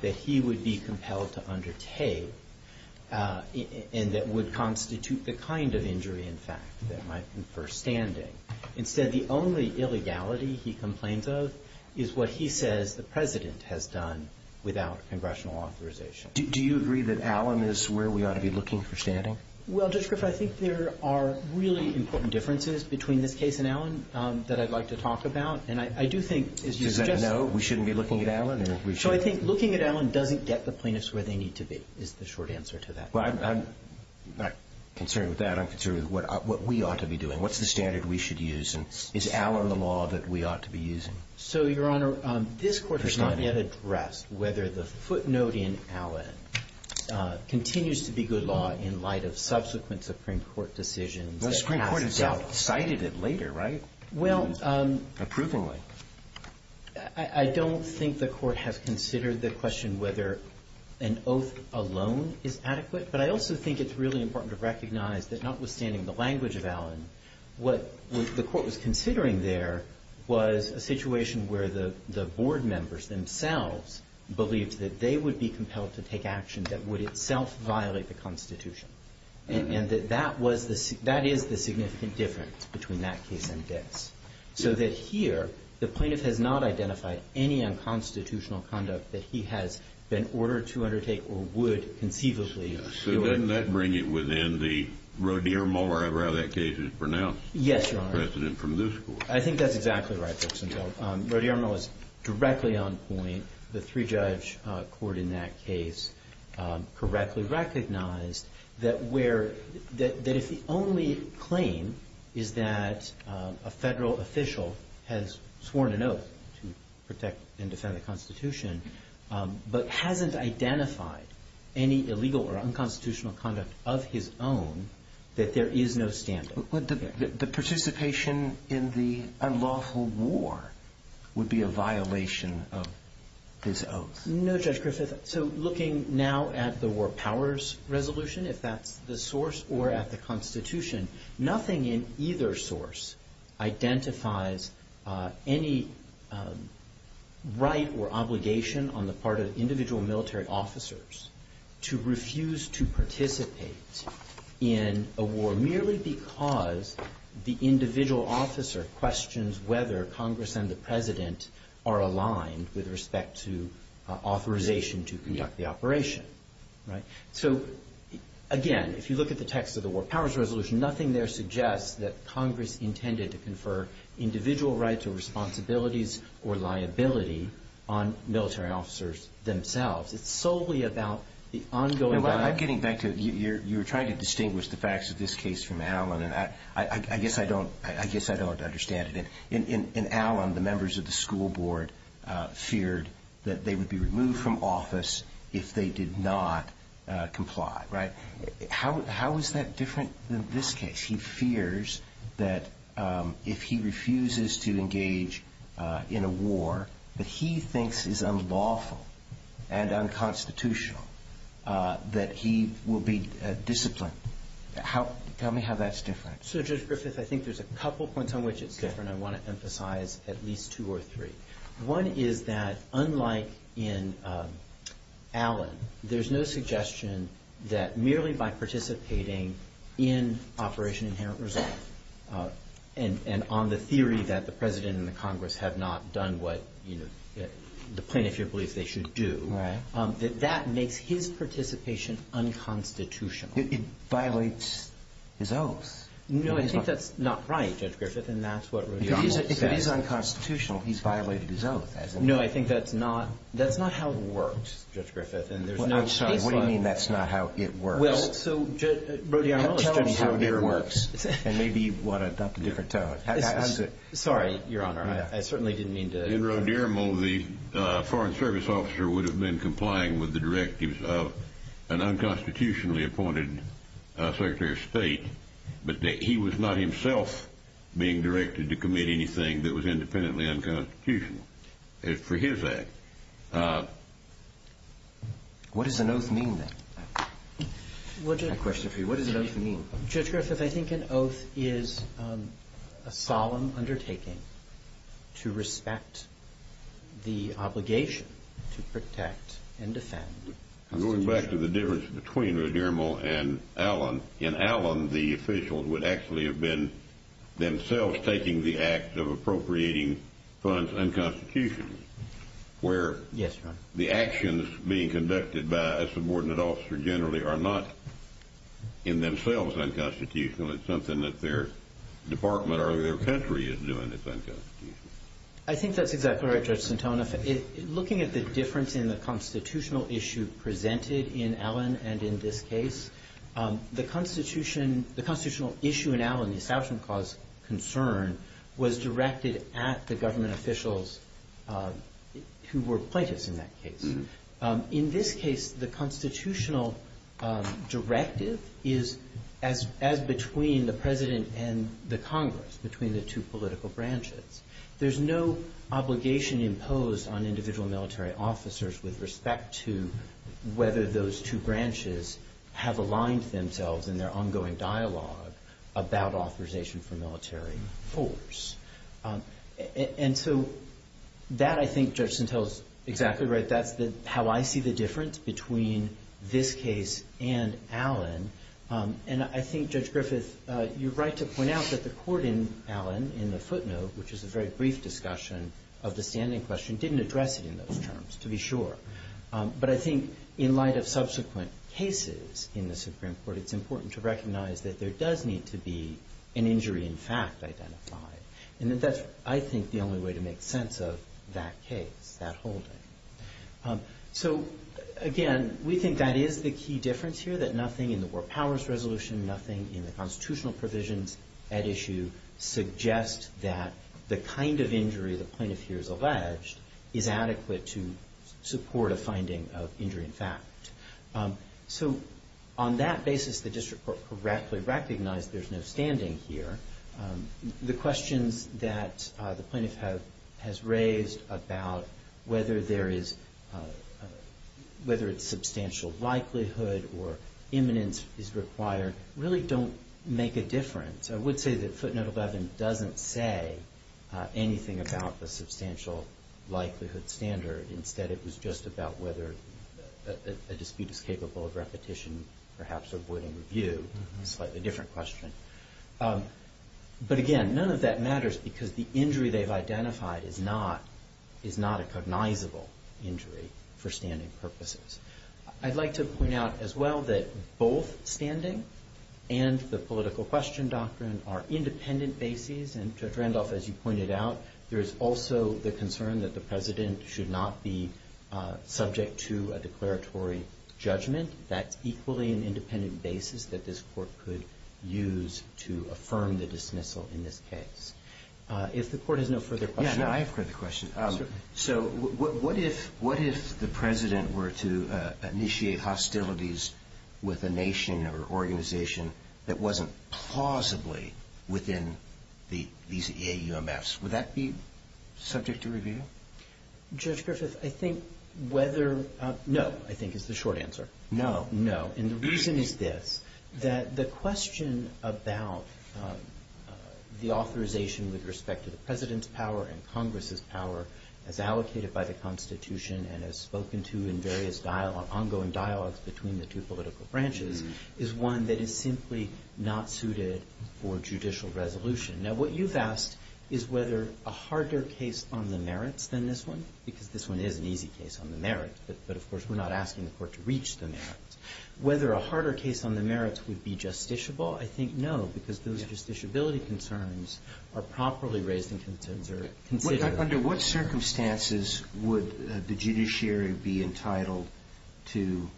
that he would be compelled to undertake. And that would constitute the kind of injury, in fact, that might infer standing. Instead, the only illegality he complains of is what he says the president has done without congressional authorization. Do you agree that Alan is where we ought to be looking for standing? Well, Judge Griffith, I think there are really important differences between this case and Alan that I'd like to talk about. And I do think, as you know, we shouldn't be looking at Alan. So I think looking at Alan doesn't get the plaintiffs where they need to be is the short answer to that. I'm not concerned with that. I'm concerned with what we ought to be doing. What's the standard we should use? And is Alan the law that we ought to be using? So, Your Honor, this Court has not yet addressed whether the footnote in Alan continues to be good law in light of subsequent Supreme Court decisions. The Supreme Court has cited it later, right? Approvingly. Well, I don't think the Court has considered the question whether an oath alone is adequate. But I also think it's really important to recognize that notwithstanding the language of Alan, what the Court was considering there was a situation where the board members themselves believed that they would be compelled to take action that would itself violate the Constitution. And that that was the – that is the significant difference between that case and this. So that here, the plaintiff has not identified any unconstitutional conduct that he has been ordered to undertake or would conceivably do it. So doesn't that bring it within the Rodeo-Muller, however that case is pronounced? Yes, Your Honor. President from this Court. I think that's exactly right, Justice Ginsburg. Rodeo-Muller was directly on point. The three-judge court in that case correctly recognized that where – that if the only claim is that a Federal official has sworn an oath to protect and defend the Constitution but hasn't identified any illegal or unconstitutional conduct of his own, that there is no standing. Would the participation in the unlawful war would be a violation of his oath? No, Judge Griffith. So looking now at the War Powers Resolution, if that's the source, or at the Constitution, nothing in either source identifies any right or obligation on the part of individual military officers to refuse to participate in a war merely because the individual officer questions whether Congress and the President are aligned with respect to authorization to conduct the operation, right? So again, if you look at the text of the War Powers Resolution, nothing there suggests that Congress intended to confer individual rights or responsibilities or liability on military officers themselves. It's solely about the ongoing – I'm getting back to – you're trying to distinguish the facts of this case from Allen, and I guess I don't understand it. In Allen, the members of the school board feared that they would be removed from office if they did not comply, right? How is that different than this case? He fears that if he refuses to engage in a war that he thinks is unlawful and unconstitutional, that he will be disciplined. Tell me how that's different. So, Judge Griffith, I think there's a couple points on which it's different. I want to emphasize at least two or three. One is that unlike in Allen, there's no suggestion that merely by participating in Operation Inherent Resolve and on the theory that the President and the Congress have not done what the plaintiff here believes they should do, that that makes his participation unconstitutional. It violates his oath. No, I think that's not right, Judge Griffith, and that's what Rodiermo said. If it is unconstitutional, he's violated his oath, hasn't he? No, I think that's not how it works, Judge Griffith, and there's no case law. I'm sorry, what do you mean that's not how it works? Well, so – Tell us how it works, and maybe you want to adopt a different tone. Sorry, Your Honor, I certainly didn't mean to – In Rodiermo, the Foreign Service officer would have been complying with the directives of an unconstitutionally appointed Secretary of State, but he was not himself being directed to commit anything that was independently unconstitutional for his act. What does an oath mean, then? I have a question for you. What does an oath mean? Judge Griffith, I think an oath is a solemn undertaking to respect the obligation to protect and defend the Constitution. Going back to the difference between Rodiermo and Allen, in Allen the officials would actually have been themselves taking the act of appropriating funds unconstitutionally, where the actions being conducted by a subordinate officer generally are not in themselves unconstitutional. It's something that their department or their country is doing that's unconstitutional. I think that's exactly right, Judge Santonio. Looking at the difference in the constitutional issue presented in Allen and in this case, the constitutional issue in Allen, the establishment cause concern, was directed at the government officials who were plaintiffs in that case. In this case, the constitutional directive is as between the President and the Congress, between the two political branches. There's no obligation imposed on individual military officers with respect to whether those two branches have aligned themselves in their ongoing dialogue about authorization for military force. And so that, I think, Judge Santel is exactly right. That's how I see the difference between this case and Allen. And I think, Judge Griffith, you're right to point out that the court in Allen, in the footnote, which is a very brief discussion of the standing question, didn't address it in those terms, to be sure. But I think in light of subsequent cases in the Supreme Court, it's important to recognize that there does need to be an injury in fact identified. And that that's, I think, the only way to make sense of that case, that holding. So, again, we think that is the key difference here, that nothing in the War Powers Resolution, nothing in the constitutional provisions at issue, suggests that the kind of injury the plaintiff here has alleged is adequate to support a finding of injury in fact. So on that basis, the district court correctly recognized there's no standing here. The questions that the plaintiff has raised about whether there is, whether it's substantial likelihood or imminence is required, really don't make a difference. I would say that footnote 11 doesn't say anything about the substantial likelihood standard. Instead, it was just about whether a dispute is capable of repetition, perhaps avoiding review. Slightly different question. But, again, none of that matters because the injury they've identified is not a cognizable injury for standing purposes. I'd like to point out as well that both standing and the political question doctrine are independent bases. And Judge Randolph, as you pointed out, there is also the concern that the president should not be subject to a declaratory judgment. That's equally an independent basis that this court could use to affirm the dismissal in this case. If the court has no further questions. Yeah, no, I have a further question. Certainly. So what if the president were to initiate hostilities with a nation or organization that wasn't plausibly within these EAUMFs? Would that be subject to review? Judge Griffith, I think whether, no, I think is the short answer. No. No. And the reason is this, that the question about the authorization with respect to the president's power and Congress's power as allocated by the Constitution and as spoken to in various ongoing dialogues between the two political branches is one that is simply not suited for judicial resolution. Now, what you've asked is whether a harder case on the merits than this one, because this one is an easy case on the merits, but, of course, we're not asking the court to reach the merits. Whether a harder case on the merits would be justiciable, I think no, because those justiciability concerns are properly raised and considered. Under what circumstances would the judiciary be entitled to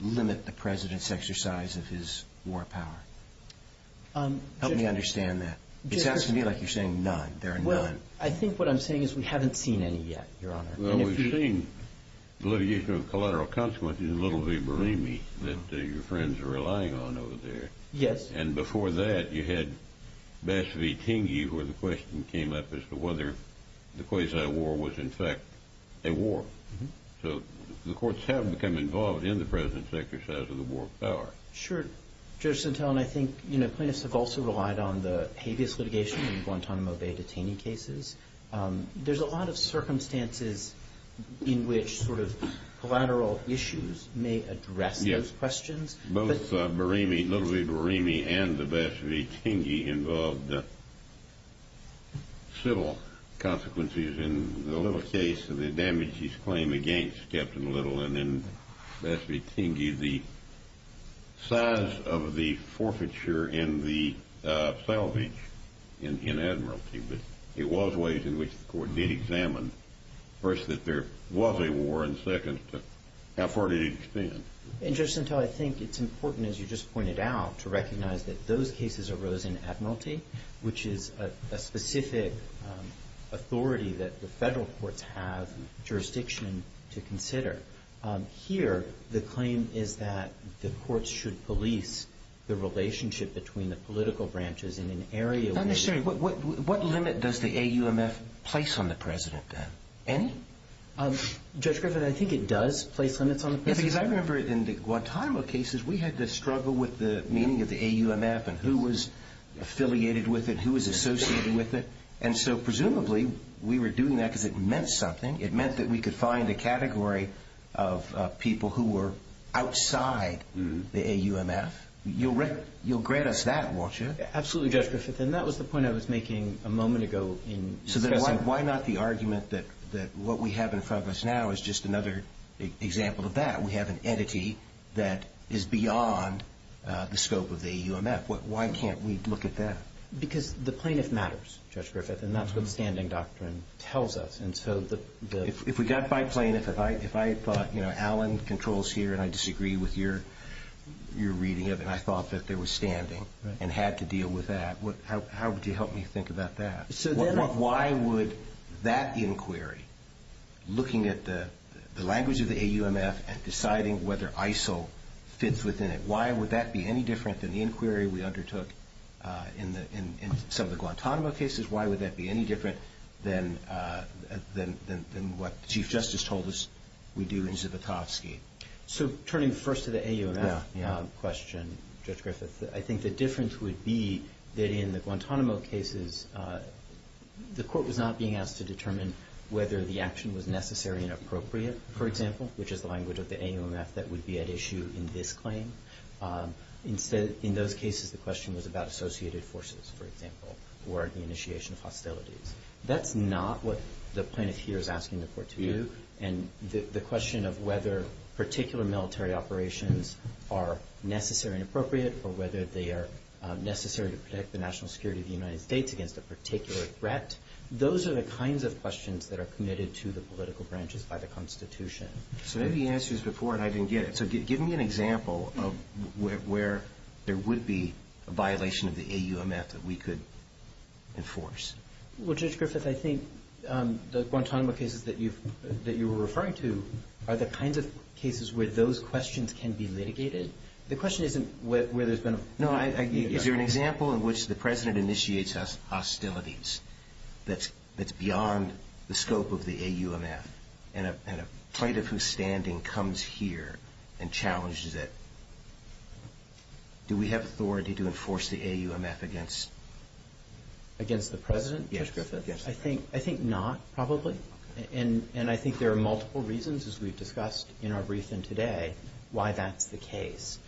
limit the president's exercise of his war power? Help me understand that. It's asking me like you're saying none. There are none. Well, I think what I'm saying is we haven't seen any yet, Your Honor. Well, we've seen the litigation of collateral consequences in Little V. Burimi that your friends are relying on over there. Yes. And before that, you had Bass V. Tingey where the question came up as to whether the Kwesi War was, in fact, a war. So the courts have become involved in the president's exercise of the war power. Sure. Judge Sentelle, and I think plaintiffs have also relied on the habeas litigation in Guantanamo Bay detainee cases. There's a lot of circumstances in which sort of collateral issues may address those questions. Yes. Both Burimi, Little V. Burimi and the Bass V. Tingey involved civil consequences in the Little case and the damage he's claimed against Captain Little and then Bass V. Tingey, the size of the forfeiture and the salvage in Admiralty. But it was ways in which the court did examine, first, that there was a war, and second, how far did it extend? And, Judge Sentelle, I think it's important, as you just pointed out, to recognize that those cases arose in Admiralty, which is a specific authority that the federal courts have jurisdiction to consider. Here, the claim is that the courts should police the relationship between the political branches in an area where Not necessarily. What limit does the AUMF place on the president, then? Any? Judge Griffith, I think it does place limits on the president. Yes, because I remember in the Guantanamo cases, we had to struggle with the meaning of the AUMF and who was affiliated with it, who was associated with it, and so presumably we were doing that because it meant something. It meant that we could find a category of people who were outside the AUMF. You'll grant us that, won't you? Absolutely, Judge Griffith, and that was the point I was making a moment ago in discussing Why not the argument that what we have in front of us now is just another example of that? We have an entity that is beyond the scope of the AUMF. Why can't we look at that? Because the plaintiff matters, Judge Griffith, and that's what the standing doctrine tells us, and so the If we got by plaintiff, if I thought, you know, Allen controls here, and I disagree with your reading of it, and I thought that there was standing and had to deal with that, how would you help me think about that? Why would that inquiry, looking at the language of the AUMF and deciding whether ISIL fits within it, why would that be any different than the inquiry we undertook in some of the Guantanamo cases? Why would that be any different than what the Chief Justice told us we do in Zivotofsky? So turning first to the AUMF question, Judge Griffith, I think the difference would be that in the Guantanamo cases the court was not being asked to determine whether the action was necessary and appropriate, for example, which is the language of the AUMF that would be at issue in this claim. Instead, in those cases, the question was about associated forces, for example, or the initiation of hostilities. That's not what the plaintiff here is asking the court to do, and the question of whether particular military operations are necessary and appropriate or whether they are necessary to protect the national security of the United States against a particular threat, those are the kinds of questions that are committed to the political branches by the Constitution. So maybe the answer is before, and I didn't get it. So give me an example of where there would be a violation of the AUMF that we could enforce. Well, Judge Griffith, I think the Guantanamo cases that you were referring to are the kinds of cases where those questions can be litigated. The question isn't where there's been a violation. No. Is there an example in which the President initiates hostilities that's beyond the scope of the AUMF and a plaintiff whose standing comes here and challenges it? Do we have authority to enforce the AUMF against? Against the President, Judge Griffith? Yes, Judge Griffith, yes. I think not, probably, and I think there are multiple reasons, as we've discussed in our briefing today, why that's the case.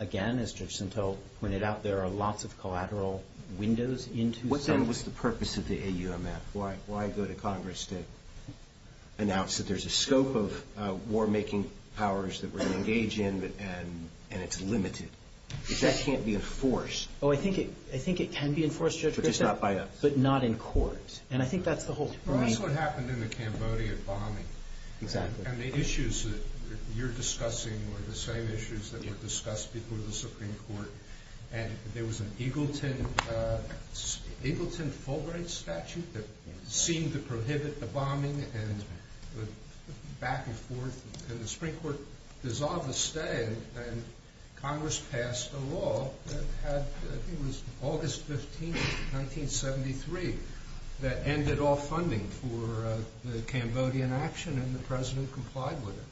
Again, as Judge Sintel pointed out, there are lots of collateral windows into some. What then was the purpose of the AUMF? Why go to Congress to announce that there's a scope of war-making powers that we're going to engage in and it's limited? Because that can't be enforced. Oh, I think it can be enforced, Judge Griffith. But just not by us. But not in court, and I think that's the whole point. Well, that's what happened in the Cambodian bombing. Exactly. And the issues that you're discussing were the same issues that were discussed before the Supreme Court, and there was an Eagleton-Fulbright statute that seemed to prohibit the bombing and the back-and-forth, and the Supreme Court dissolved the stay, and Congress passed a law that had, I think it was August 15, 1973, that ended all funding for the Cambodian action, and the President complied with it.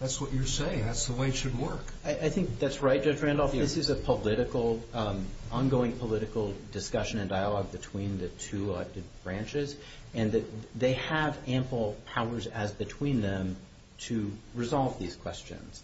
That's what you're saying. That's the way it should work. I think that's right, Judge Randolph. This is a political, ongoing political discussion and dialogue between the two elected branches, and they have ample powers as between them to resolve these questions.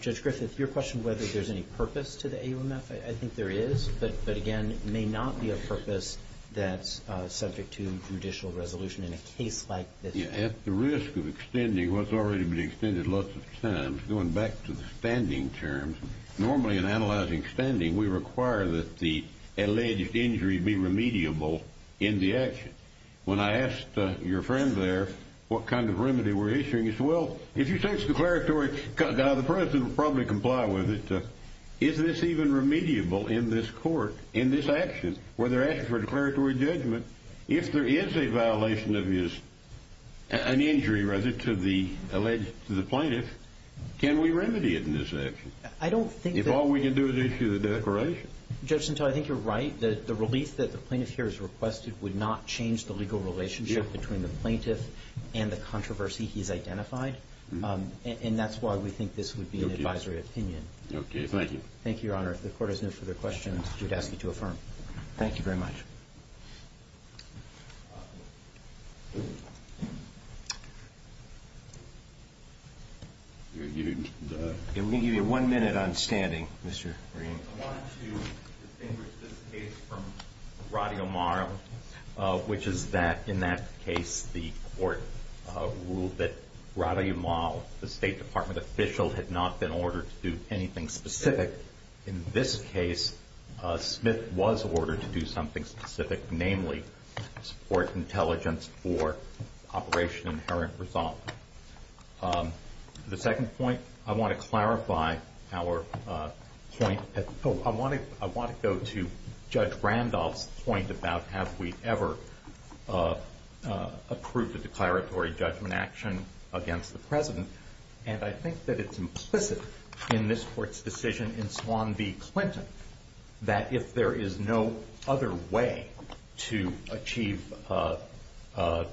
Judge Griffith, your question whether there's any purpose to the AOMF, I think there is, but, again, may not be a purpose that's subject to judicial resolution in a case like this. At the risk of extending what's already been extended lots of times, going back to the standing terms, normally in analyzing spending, we require that the alleged injury be remediable in the action. When I asked your friend there what kind of remedy we're issuing, he said, Well, if you say it's declaratory, the President will probably comply with it. Is this even remediable in this court, in this action, where they're asking for a declaratory judgment, if there is a violation of an injury, rather, to the alleged plaintiff, can we remedy it in this action? I don't think that If all we can do is issue the declaration. Judge Sintel, I think you're right. The relief that the plaintiff here has requested would not change the legal relationship between the plaintiff and the controversy he's identified, and that's why we think this would be an advisory opinion. Okay, thank you. Thank you, Your Honor. If the Court has no further questions, I would ask you to affirm. Thank you very much. We're going to give you one minute on standing, Mr. Green. I wanted to distinguish this case from Radyomar, which is that, in that case, the Court ruled that Radyomar, the State Department official, had not been ordered to do anything specific. In this case, Smith was ordered to do something specific, namely, support intelligence for Operation Inherent Resolvement. The second point, I want to clarify our point. I want to go to Judge Randolph's point about have we ever approved a declaratory judgment action against the President, and I think that it's implicit in this Court's decision in Swan v. Clinton that if there is no other way to achieve the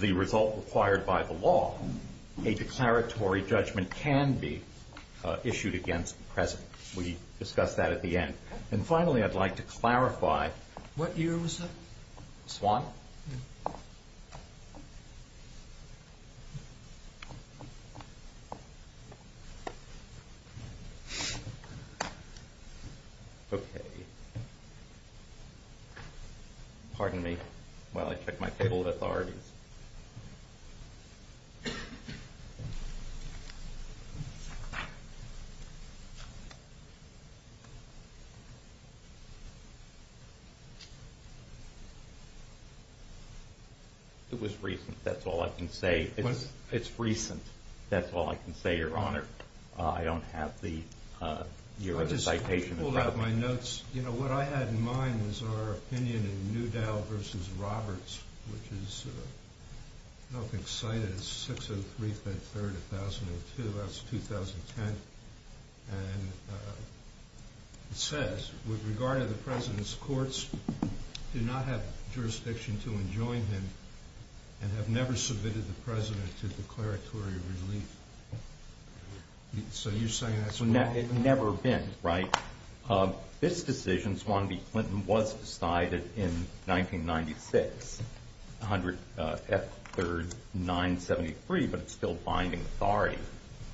result required by the law, a declaratory judgment can be issued against the President. We discussed that at the end. And finally, I'd like to clarify. What year was that? Swan? No. Okay. Okay. Pardon me while I check my table of authorities. It was recent. That's all I can say. It's recent. That's all I can say, Your Honor. I don't have the year of the citation. I pulled out my notes. You know, what I had in mind was our opinion in Newdow v. Roberts, which is, I don't know if it's cited. It's 603-53-1002. That's 2010. And it says, with regard to the President's courts, do not have jurisdiction to enjoin him and have never submitted the President to declaratory relief. So you're saying that's wrong? It's never been, right? This decision, Swan v. Clinton, was decided in 1996, 100 F. 3rd 973, but it's still binding authority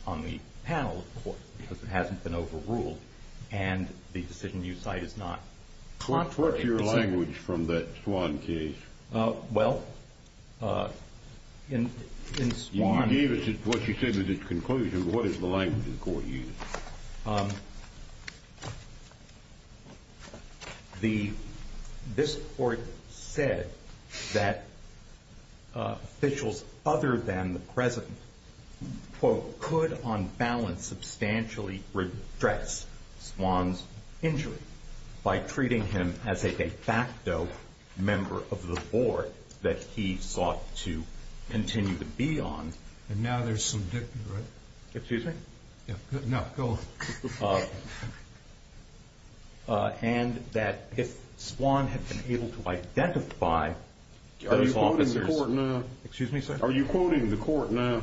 on the panel of courts because it hasn't been overruled. And the decision you cite is not contrary. What's your language from that Swan case? Well, in Swan. You gave us what you said was its conclusion. What is the language the court used? This court said that officials other than the President, quote, could on balance substantially redress Swan's injury by treating him as a de facto member of the board that he sought to continue to be on. And now there's some dictum, right? Excuse me? No, go on. And that if Swan had been able to identify those officers. Are you quoting the court now? Excuse me, sir? Are you quoting the court now?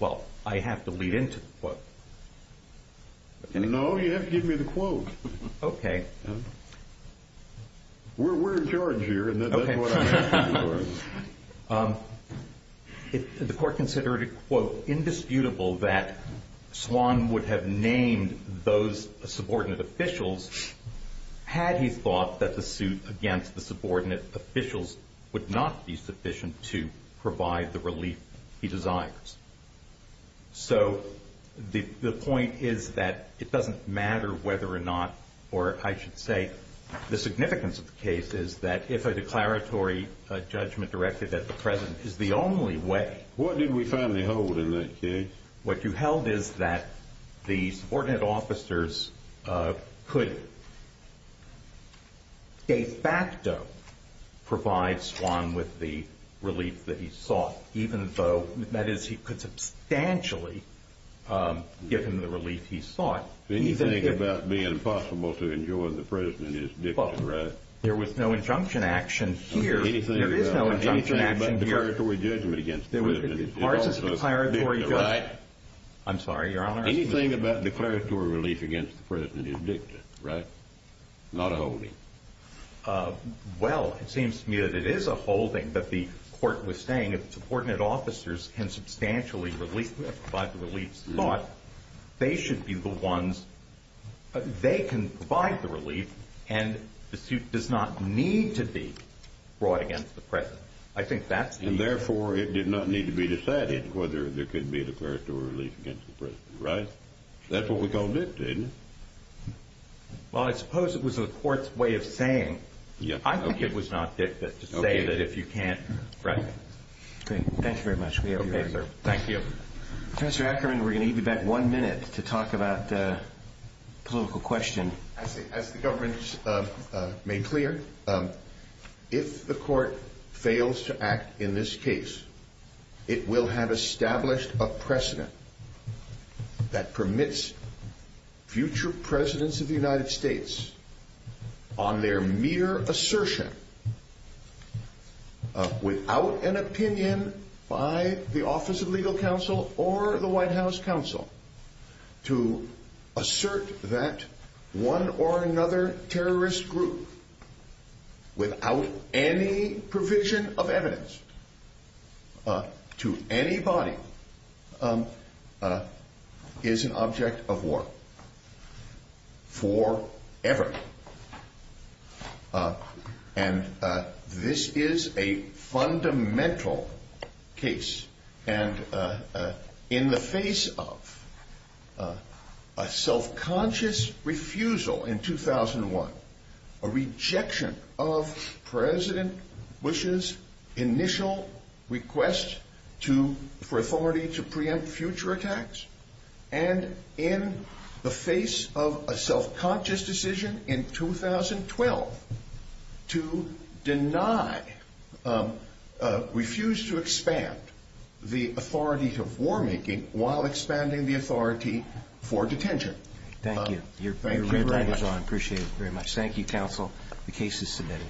Well, I have to lead into the court. No, you have to give me the quote. Okay. We're in charge here, and that's what I'm asking for. The court considered it, quote, indisputable that Swan would have named those subordinate officials had he thought that the suit against the subordinate officials would not be sufficient to provide the relief he desires. So the point is that it doesn't matter whether or not, or I should say, the significance of the case is that if a declaratory judgment directed at the President is the only way. What did we finally hold in that case? What you held is that the subordinate officers could de facto provide Swan with the relief that he sought, even though that is he could substantially give him the relief he sought. Anything about being impossible to enjoin the President is dictum, right? There was no injunction action here. There is no injunction action here. Anything but declaratory judgment against the President is also dictum, right? I'm sorry, Your Honor. Anything about declaratory relief against the President is dictum, right? Not a holding. Well, it seems to me that it is a holding, but the court was saying that the subordinate officers can substantially provide the relief sought. They should be the ones. They can provide the relief, and the suit does not need to be brought against the President. And, therefore, it did not need to be decided whether there could be a declaratory relief against the President, right? That's what we called dictum, isn't it? Well, I suppose it was the court's way of saying. I think it was not dictum to say that if you can't. Right. Great. Thank you very much. We appreciate it. Thank you. Professor Ackerman, we're going to give you back one minute to talk about the political question. As the government made clear, if the court fails to act in this case, it will have established a precedent that permits future Presidents of the United States, on their mere assertion, without an opinion by the Office of Legal Counsel or the White House Counsel, to assert that one or another terrorist group, without any provision of evidence to anybody, is an object of war. Forever. And this is a fundamental case. And in the face of a self-conscious refusal in 2001, a rejection of President Bush's initial request for authority to preempt future attacks, and in the face of a self-conscious decision in 2012 to deny, refuse to expand the authority to war-making while expanding the authority for detention. Thank you. Thank you very much. I appreciate it very much. Thank you, counsel. The case is submitted.